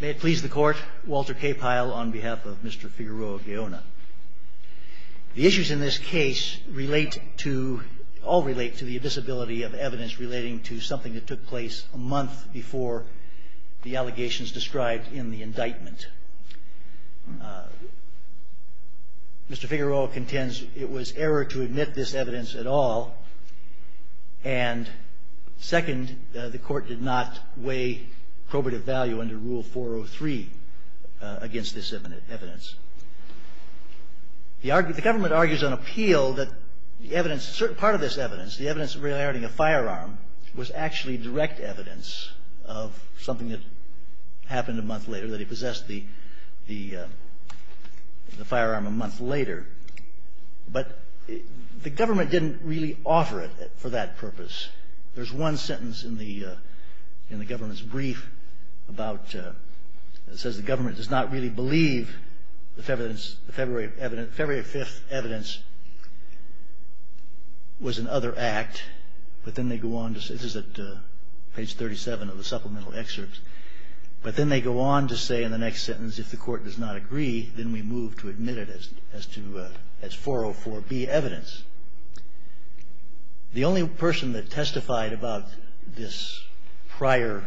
May it please the court, Walter K. Pyle on behalf of Mr. Figueroa-Gaona. The issues in this case all relate to the invisibility of evidence relating to something that took place a month before the allegations described in the indictment. Mr. Figueroa contends it was error to admit this evidence at all, and second, the court did not weigh probative value under Rule 403 against this evidence. The government argues on appeal that part of this evidence, the evidence regarding a firearm, was actually direct evidence of something that happened a month later, that he possessed the firearm a month later, but the government didn't really offer it for that purpose. There's one sentence in the government's brief that says the government does not really believe the February 5th evidence was an other act, but then they go on to say, this is at page 37 of the supplemental excerpts, but then they go on to say in the next sentence, if the court does not agree, then we move to admit it as 404B evidence. The only person that testified about this prior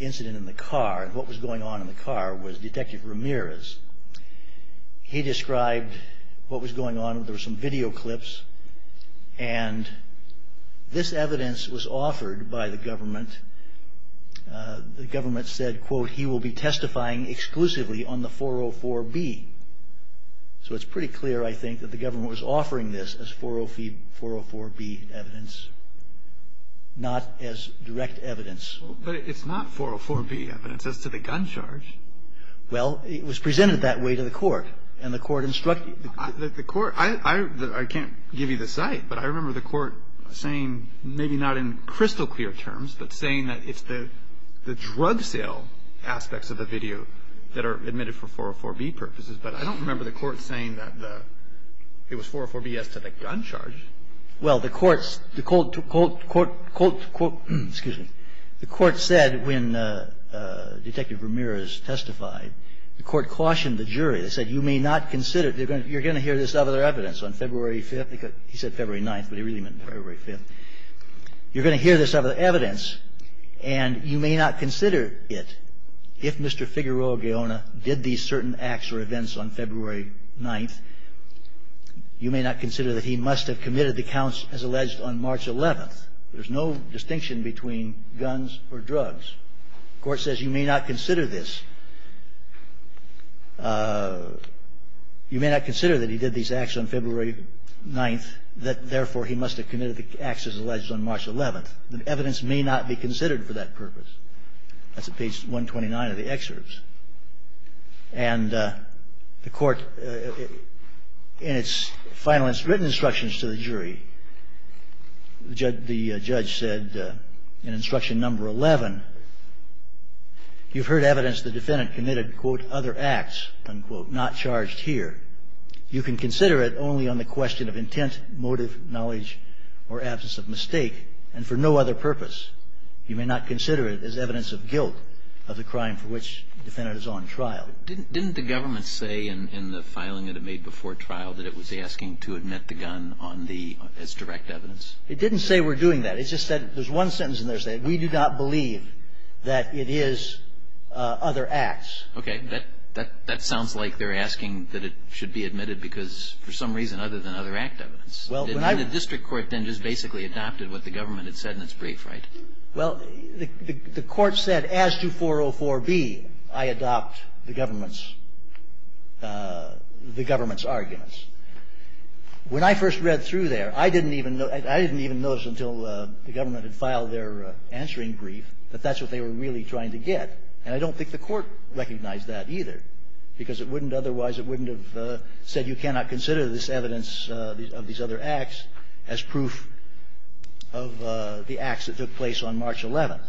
incident in the car, what was going on in the car, was Detective Ramirez. He described what was going on, there were some video clips, and this evidence was offered by the government. The government said, quote, he will be testifying exclusively on the 404B, so it's pretty clear, I think, that the government was offering this as 404B evidence, not as direct evidence. But it's not 404B evidence as to the gun charge. Well, it was presented that way to the court, and the court instructed. The court, I can't give you the site, but I remember the court saying, maybe not in crystal clear terms, but saying that it's the drug sale aspects of the video that are admitted for 404B purposes, but I don't remember the court saying that the, it was 404B as to the gun charge. Well, the court, quote, quote, quote, quote, excuse me, the court said when Detective Ramirez testified, the court cautioned the jury. They said, you may not consider, you're going to hear this other evidence on February 5th. He said February 9th, but he really meant February 5th. You're going to hear this other evidence, and you may not consider it if Mr. Figueroa-Guillona did these certain acts or events on February 9th. You may not consider that he must have committed the counts as alleged on March 11th. There's no distinction between guns or drugs. The court says you may not consider this. You may not consider that he did these acts on February 9th, that, therefore, he must have committed the acts as alleged on March 11th. The evidence may not be considered for that purpose. That's at page 129 of the excerpts. And the court, in its final written instructions to the jury, the judge said in instruction number 11, you've heard evidence the defendant committed, quote, other acts, unquote, not charged here. You can consider it only on the question of intent, motive, knowledge, or absence of mistake, and for no other purpose. You may not consider it as evidence of guilt of the crime for which the defendant is on trial. Didn't the government say in the filing that it made before trial that it was asking to admit the gun on the as direct evidence? It didn't say we're doing that. It just said there's one sentence in there saying we do not believe that it is other acts. Okay. That sounds like they're asking that it should be admitted because for some reason other than other act evidence. The district court then just basically adopted what the government had said in its brief, right? Well, the court said as to 404B, I adopt the government's arguments. When I first read through there, I didn't even notice until the government had filed their answering brief that that's what they were really trying to get. And I don't think the court recognized that either, because it wouldn't otherwise have said you cannot consider this evidence of these other acts as proof of the acts that took place on March 11th.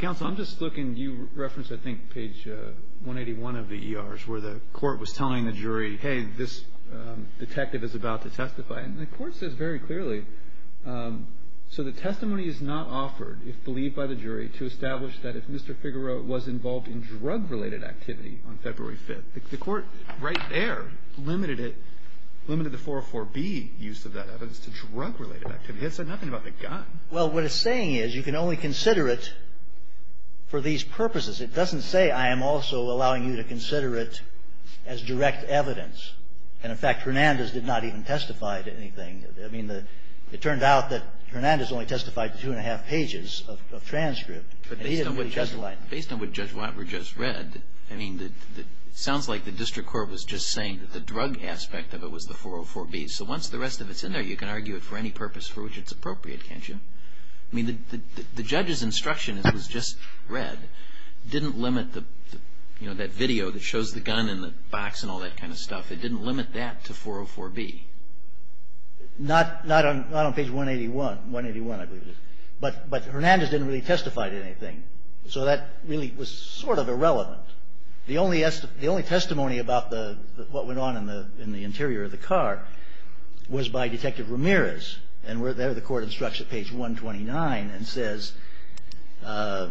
Counsel, I'm just looking. You referenced, I think, page 181 of the ERs where the court was telling the jury, hey, this detective is about to testify. And the court says very clearly, so the testimony is not offered, if believed by the jury, to establish that if Mr. Figueroa was involved in drug-related activity on February 5th, the court right there limited it, limited the 404B use of that evidence to drug-related activity. It said nothing about the gun. Well, what it's saying is you can only consider it for these purposes. It doesn't say I am also allowing you to consider it as direct evidence. And, in fact, Hernandez did not even testify to anything. I mean, it turned out that Hernandez only testified to two-and-a-half pages of transcript. And he didn't read Judge White. I mean, it sounds like the district court was just saying that the drug aspect of it was the 404B. So once the rest of it's in there, you can argue it for any purpose for which it's appropriate, can't you? I mean, the judge's instruction that it was just read didn't limit the, you know, that video that shows the gun in the box and all that kind of stuff. It didn't limit that to 404B. Not on page 181. 181, I believe it is. But Hernandez didn't really testify to anything. So that really was sort of irrelevant. The only testimony about what went on in the interior of the car was by Detective Ramirez. And there the court instructs at page 129 and says you're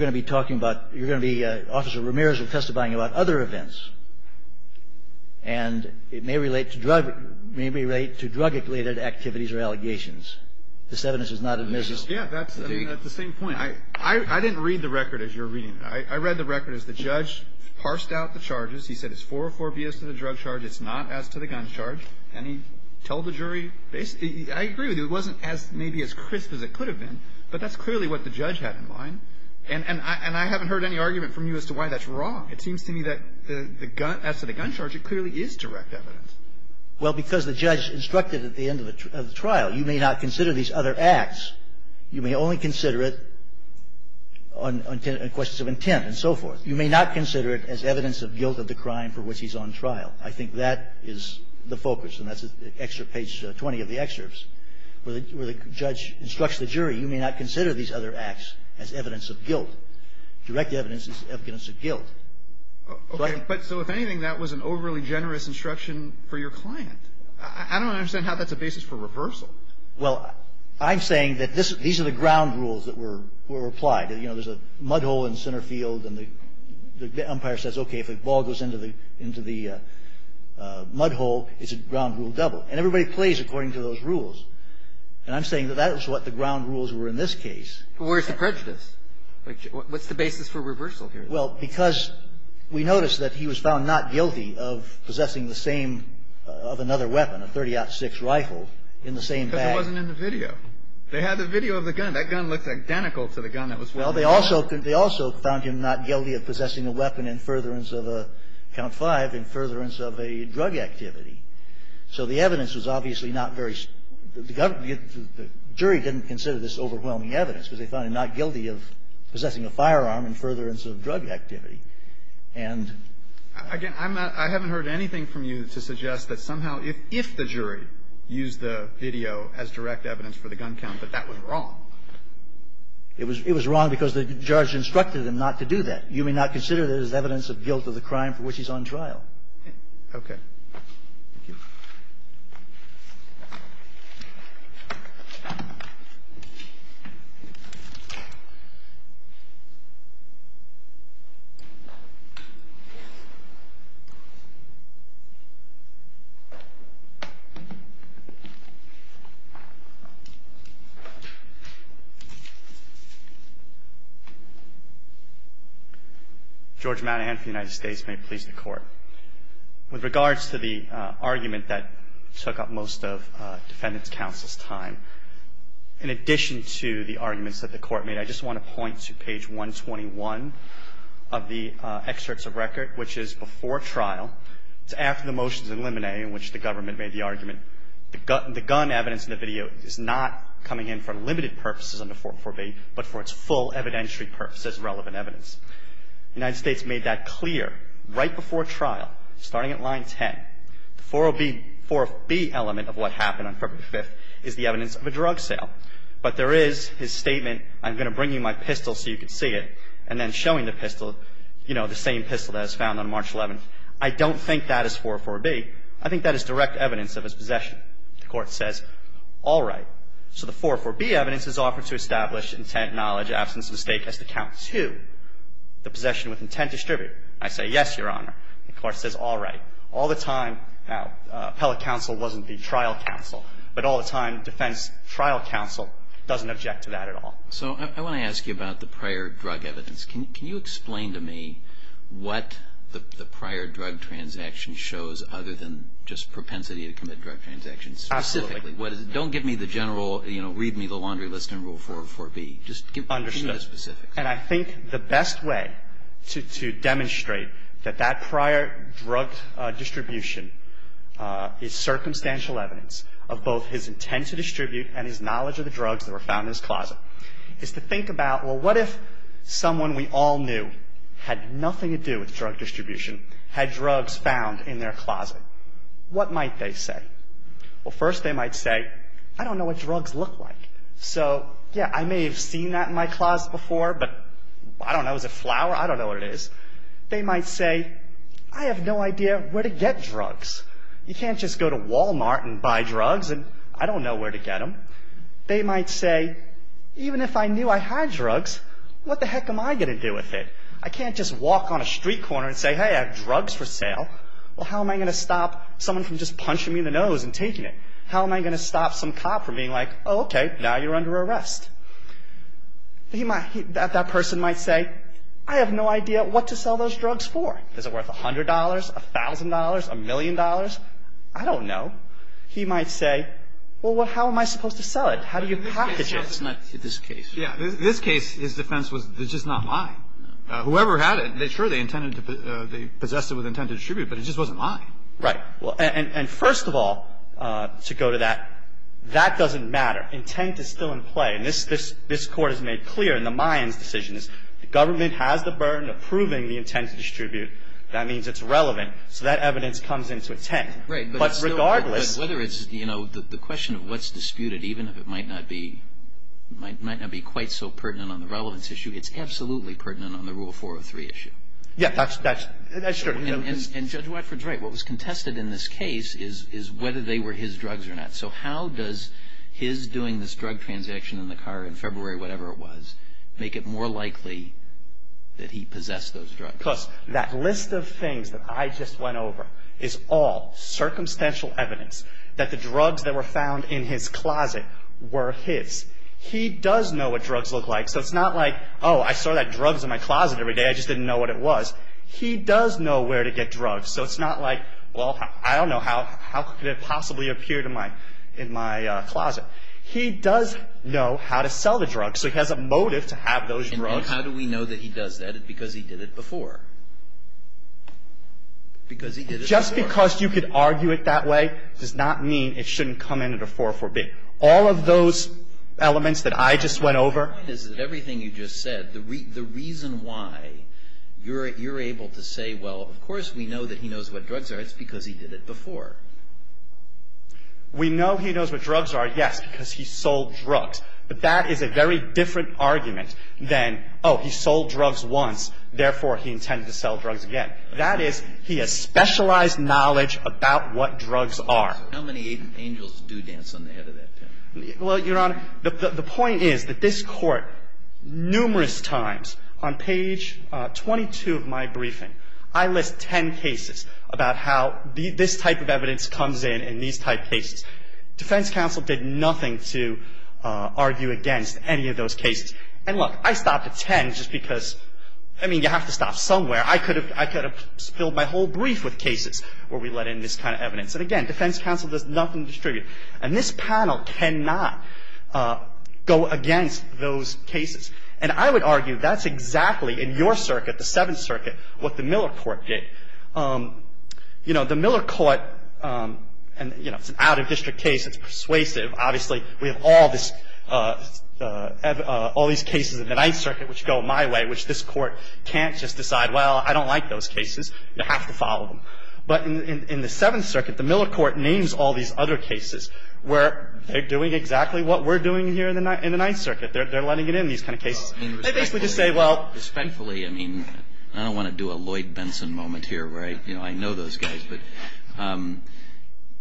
going to be talking about, you're going to be, Officer Ramirez will be testifying about other events. And it may relate to drug-related activities or allegations. This evidence is not admissible. Yeah, that's the same point. I didn't read the record as you're reading it. I read the record as the judge parsed out the charges. He said it's 404B as to the drug charge. It's not as to the gun charge. And he told the jury basically, I agree with you. It wasn't as maybe as crisp as it could have been. But that's clearly what the judge had in mind. And I haven't heard any argument from you as to why that's wrong. It seems to me that the gun, as to the gun charge, it clearly is direct evidence. Well, because the judge instructed at the end of the trial, you may not consider these other acts. You may only consider it on questions of intent and so forth. You may not consider it as evidence of guilt of the crime for which he's on trial. I think that is the focus. And that's page 20 of the excerpts where the judge instructs the jury, you may not consider these other acts as evidence of guilt. Direct evidence is evidence of guilt. But so if anything, that was an overly generous instruction for your client. I don't understand how that's a basis for reversal. Well, I'm saying that these are the ground rules that were applied. You know, there's a mud hole in center field, and the umpire says, okay, if a ball goes into the mud hole, it's a ground rule double. And everybody plays according to those rules. And I'm saying that that was what the ground rules were in this case. But where's the prejudice? What's the basis for reversal here? Well, because we noticed that he was found not guilty of possessing the same of another weapon, a .30-06 rifle, in the same bag. But it wasn't in the video. They had the video of the gun. That gun looks identical to the gun that was found in the mud hole. Well, they also found him not guilty of possessing a weapon in furtherance of a count five, in furtherance of a drug activity. So the evidence was obviously not very – the jury didn't consider this overwhelming evidence because they found him not guilty of possessing a firearm in furtherance of drug activity. And – Again, I'm not – I haven't heard anything from you to suggest that somehow, if the jury used the video as direct evidence for the gun count, that that was wrong. It was – it was wrong because the judge instructed them not to do that. You may not consider that as evidence of guilt of the crime for which he's on trial. Okay. Thank you. Thank you. George Madahan of the United States may please the Court. With regards to the argument that took up most of defendants' counsel's time, in addition to the arguments that the Court made, I just want to point to page 121 of the excerpts of record, which is before trial. It's after the motions in Limine in which the government made the argument. The gun evidence in the video is not coming in for limited purposes under 44B, but for its full evidentiary purpose as relevant evidence. The United States made that clear right before trial, starting at line 10. The 40B element of what happened on February 5th is the evidence of a drug sale. But there is his statement, I'm going to bring you my pistol so you can see it, and then showing the pistol, you know, the same pistol that was found on March 11th. I don't think that is 404B. I think that is direct evidence of his possession. The Court says, all right, so the 404B evidence is offered to establish intent, knowledge, absence of mistake as to count to the possession with intent distributed. I say, yes, Your Honor. The Court says, all right. All the time, now, appellate counsel wasn't the trial counsel, but all the time defense trial counsel doesn't object to that at all. So I want to ask you about the prior drug evidence. Can you explain to me what the prior drug transaction shows other than just propensity to commit drug transactions specifically? Absolutely. Don't give me the general, you know, read me the laundry list in Rule 404B. Just give me the specifics. Understood. And I think the best way to demonstrate that that prior drug distribution is circumstantial evidence of both his intent to distribute and his knowledge of the drugs that were found in his closet is to think about, well, what if someone we all knew had nothing to do with drug distribution, had drugs found in their closet? What might they say? Well, first they might say, I don't know what drugs look like. So, yeah, I may have seen that in my closet before, but I don't know. Is it flour? I don't know what it is. They might say, I have no idea where to get drugs. You can't just go to Walmart and buy drugs and I don't know where to get them. They might say, even if I knew I had drugs, what the heck am I going to do with it? I can't just walk on a street corner and say, hey, I have drugs for sale. Well, how am I going to stop someone from just punching me in the nose and taking it? How am I going to stop some cop from being like, oh, okay, now you're under arrest? That person might say, I have no idea what to sell those drugs for. Is it worth $100, $1,000, $1 million? I don't know. He might say, well, how am I supposed to sell it? How do you package it? It's not this case. Yeah. This case, his defense was, it's just not mine. Whoever had it, sure, they intended to possess it with intent to distribute, but it just wasn't mine. Right. Well, and first of all, to go to that, that doesn't matter. Intent is still in play. And this Court has made clear in the Mayans' decisions, the government has the burden of proving the intent to distribute. That means it's relevant. So that evidence comes into intent. Right. But regardless of whether it's, you know, the question of what's disputed, even if it might not be quite so pertinent on the relevance issue, it's absolutely pertinent on the Rule 403 issue. Yeah, that's true. And Judge Watford's right. What was contested in this case is whether they were his drugs or not. So how does his doing this drug transaction in the car in February, whatever it was, make it more likely that he possessed those drugs? Plus, that list of things that I just went over is all circumstantial evidence that the drugs that were found in his closet were his. He does know what drugs look like, so it's not like, oh, I saw that drugs in my closet every day, I just didn't know what it was. He does know where to get drugs. So it's not like, well, I don't know how could it possibly appear in my closet. He does know how to sell the drugs, so he has a motive to have those drugs. And how do we know that he does that? Because he did it before. Because he did it before. Just because you could argue it that way does not mean it shouldn't come into the 404B. All of those elements that I just went over. The point is that everything you just said, the reason why you're able to say, well, of course we know that he knows what drugs are, it's because he did it before. We know he knows what drugs are, yes, because he sold drugs. But that is a very different argument than, oh, he sold drugs once, therefore he intended to sell drugs again. That is, he has specialized knowledge about what drugs are. How many angels do dance on the head of that pen? Well, Your Honor, the point is that this Court numerous times on page 22 of my briefing I list ten cases about how this type of evidence comes in and these type cases. Defense counsel did nothing to argue against any of those cases. And, look, I stopped at ten just because, I mean, you have to stop somewhere. I could have filled my whole brief with cases where we let in this kind of evidence. And, again, defense counsel does nothing to distribute. And this panel cannot go against those cases. And I would argue that's exactly in your circuit, the Seventh Circuit, what the Miller Court did. You know, the Miller Court, and, you know, it's an out-of-district case. It's persuasive. Obviously, we have all these cases in the Ninth Circuit which go my way, which this Court can't just decide, well, I don't like those cases. You have to follow them. But in the Seventh Circuit, the Miller Court names all these other cases where they're doing exactly what we're doing here in the Ninth Circuit. They're letting it in, these kind of cases. They basically just say, well. Respectfully, I mean, I don't want to do a Lloyd Benson moment here where, you know, I know those guys. But,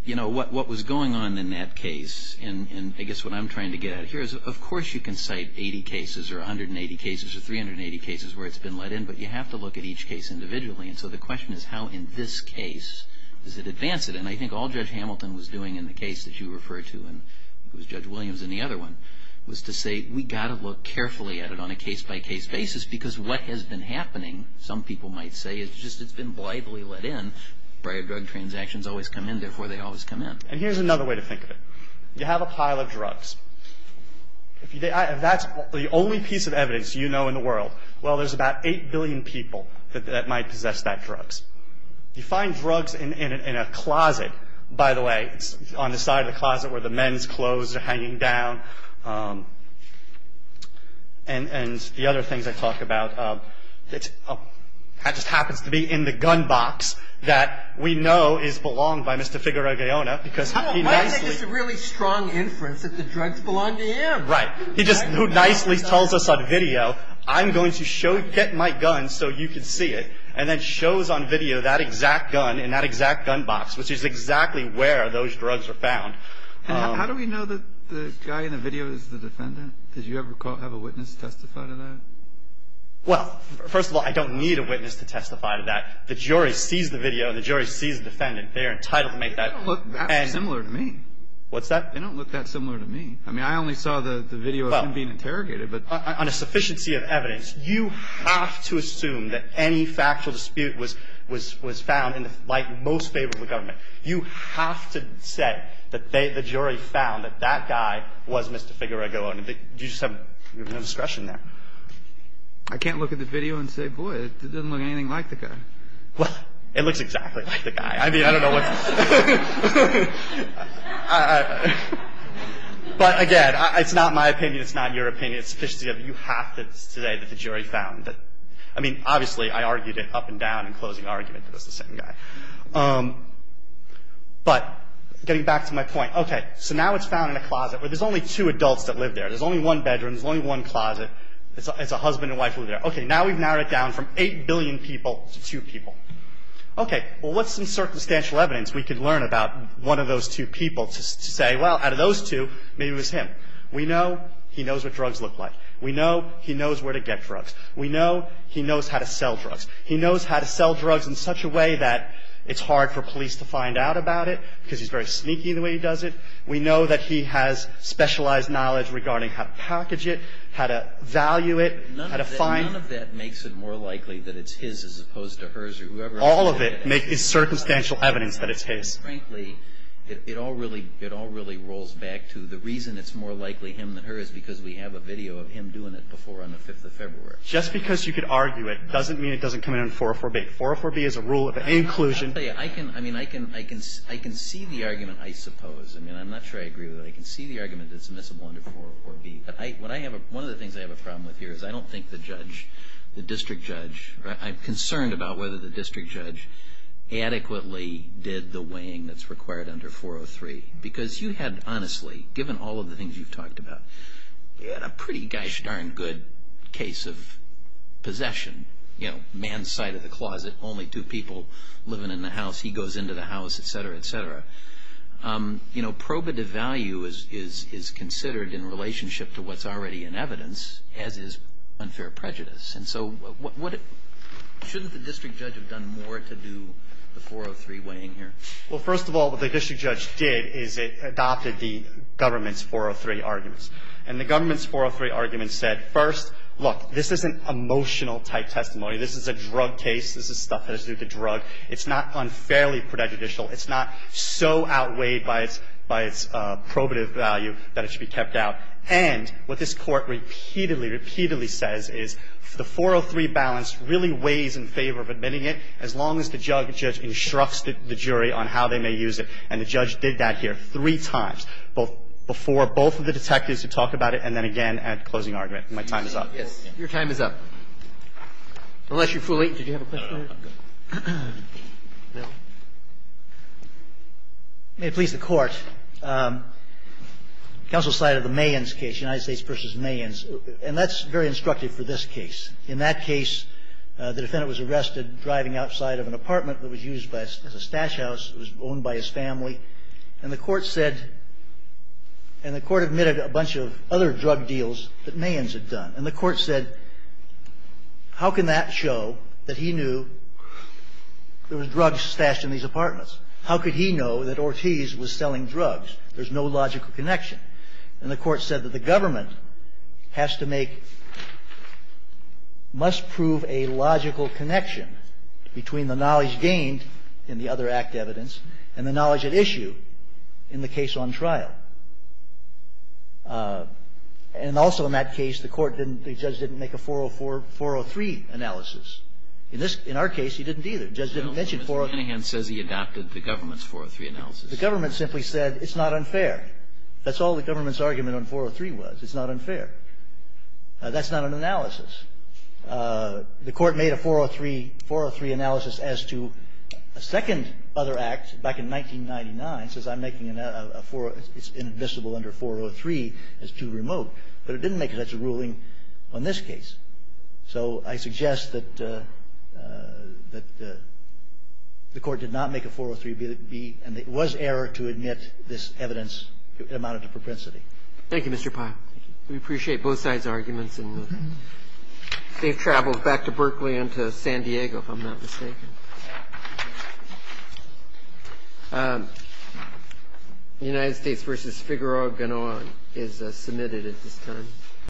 you know, what was going on in that case, and I guess what I'm trying to get at here is, of course you can cite 80 cases or 180 cases or 380 cases where it's been let in, but you have to look at each case individually. And so the question is how in this case does it advance it. And I think all Judge Hamilton was doing in the case that you referred to, and it was Judge Williams in the other one, was to say we've got to look carefully at it on a case-by-case basis because what has been happening, some people might say, is just it's been blithely let in. Prior drug transactions always come in, therefore they always come in. And here's another way to think of it. You have a pile of drugs. If that's the only piece of evidence you know in the world, well, there's about 8 billion people that might possess that drugs. You find drugs in a closet, by the way. It's on the side of the closet where the men's clothes are hanging down. And the other things I talk about, it just happens to be in the gun box that we know is belonged by Mr. Figueroa-Guillona. Because he nicely – Why do you think it's a really strong inference that the drugs belong to him? Right. He just so nicely tells us on video, I'm going to get my gun so you can see it. And then shows on video that exact gun in that exact gun box, which is exactly where those drugs are found. How do we know that the guy in the video is the defendant? Did you ever have a witness testify to that? Well, first of all, I don't need a witness to testify to that. The jury sees the video and the jury sees the defendant. They are entitled to make that – They don't look that similar to me. What's that? They don't look that similar to me. I mean, I only saw the video of him being interrogated. On a sufficiency of evidence, you have to assume that any factual dispute was found in the light and most favor of the government. You have to say that the jury found that that guy was Mr. Figueroa-Guillona. You just have no discretion there. I can't look at the video and say, boy, it doesn't look anything like the guy. Well, it looks exactly like the guy. I mean, I don't know what's – But, again, it's not my opinion. It's not your opinion. It's a sufficiency of you have to say that the jury found that – I mean, obviously, I argued it up and down in closing argument that it was the same guy. But getting back to my point, okay, so now it's found in a closet where there's only two adults that live there. There's only one bedroom. There's only one closet. It's a husband and wife who live there. Okay, now we've narrowed it down from 8 billion people to 2 people. Okay, well, what's some circumstantial evidence we could learn about one of those two people to say, well, out of those two, maybe it was him? We know he knows what drugs look like. We know he knows where to get drugs. We know he knows how to sell drugs. He knows how to sell drugs in such a way that it's hard for police to find out about it because he's very sneaky the way he does it. We know that he has specialized knowledge regarding how to package it, how to value it, how to find – all of it is circumstantial evidence that it's his. Frankly, it all really rolls back to the reason it's more likely him than her is because we have a video of him doing it before on the 5th of February. Just because you could argue it doesn't mean it doesn't come in under 404B. 404B is a rule of inclusion. I can see the argument, I suppose. I mean, I'm not sure I agree with it. I can see the argument that it's admissible under 404B. But one of the things I have a problem with here is I don't think the judge, the district judge, I'm concerned about whether the district judge adequately did the weighing that's required under 403. Because you had, honestly, given all of the things you've talked about, you had a pretty gosh darn good case of possession. You know, man's side of the closet, only two people living in the house, he goes into the house, et cetera, et cetera. You know, probative value is considered in relationship to what's already in evidence, as is unfair prejudice. And so shouldn't the district judge have done more to do the 403 weighing here? Well, first of all, what the district judge did is it adopted the government's 403 arguments. And the government's 403 arguments said, first, look, this isn't emotional-type testimony. This is a drug case. This is stuff that has to do with a drug. It's not unfairly prejudicial. It's not so outweighed by its probative value that it should be kept out. And what this Court repeatedly, repeatedly says is the 403 balance really weighs in favor of admitting it, as long as the judge instructs the jury on how they may use it. And the judge did that here three times, both before both of the detectives who talk about it and then again at closing argument. My time is up. Roberts. Your time is up. Unless you're fully ---- Did you have a question? May it please the Court. Counsel cited the Mayans case, United States v. Mayans. And that's very instructive for this case. In that case, the defendant was arrested driving outside of an apartment that was used as a stash house. It was owned by his family. And the Court said ---- and the Court admitted a bunch of other drug deals that Mayans had done. And the Court said, how can that show that he knew there was drugs stashed in these apartments? How could he know that Ortiz was selling drugs? There's no logical connection. And the Court said that the government has to make ---- must prove a logical connection between the knowledge gained in the other act evidence and the knowledge at issue in the case on trial. And also in that case, the Court didn't ---- the judge didn't make a 404, 403 analysis. In this ---- in our case, he didn't either. The judge didn't mention 403. But Mr. Manningham says he adapted the government's 403 analysis. The government simply said it's not unfair. That's all the government's argument on 403 was. It's not unfair. That's not an analysis. The Court made a 403 analysis as to a second other act back in 1999 says I'm making a ---- it's inadmissible under 403 as too remote. But it didn't make such a ruling on this case. So I suggest that the Court did not make a 403 be ---- and it was error to admit this evidence amounted to propensity. Thank you, Mr. Pyle. We appreciate both sides' arguments. And they've traveled back to Berkeley and to San Diego, if I'm not mistaken. The United States v. Figueroa-Gonoa is submitted at this time.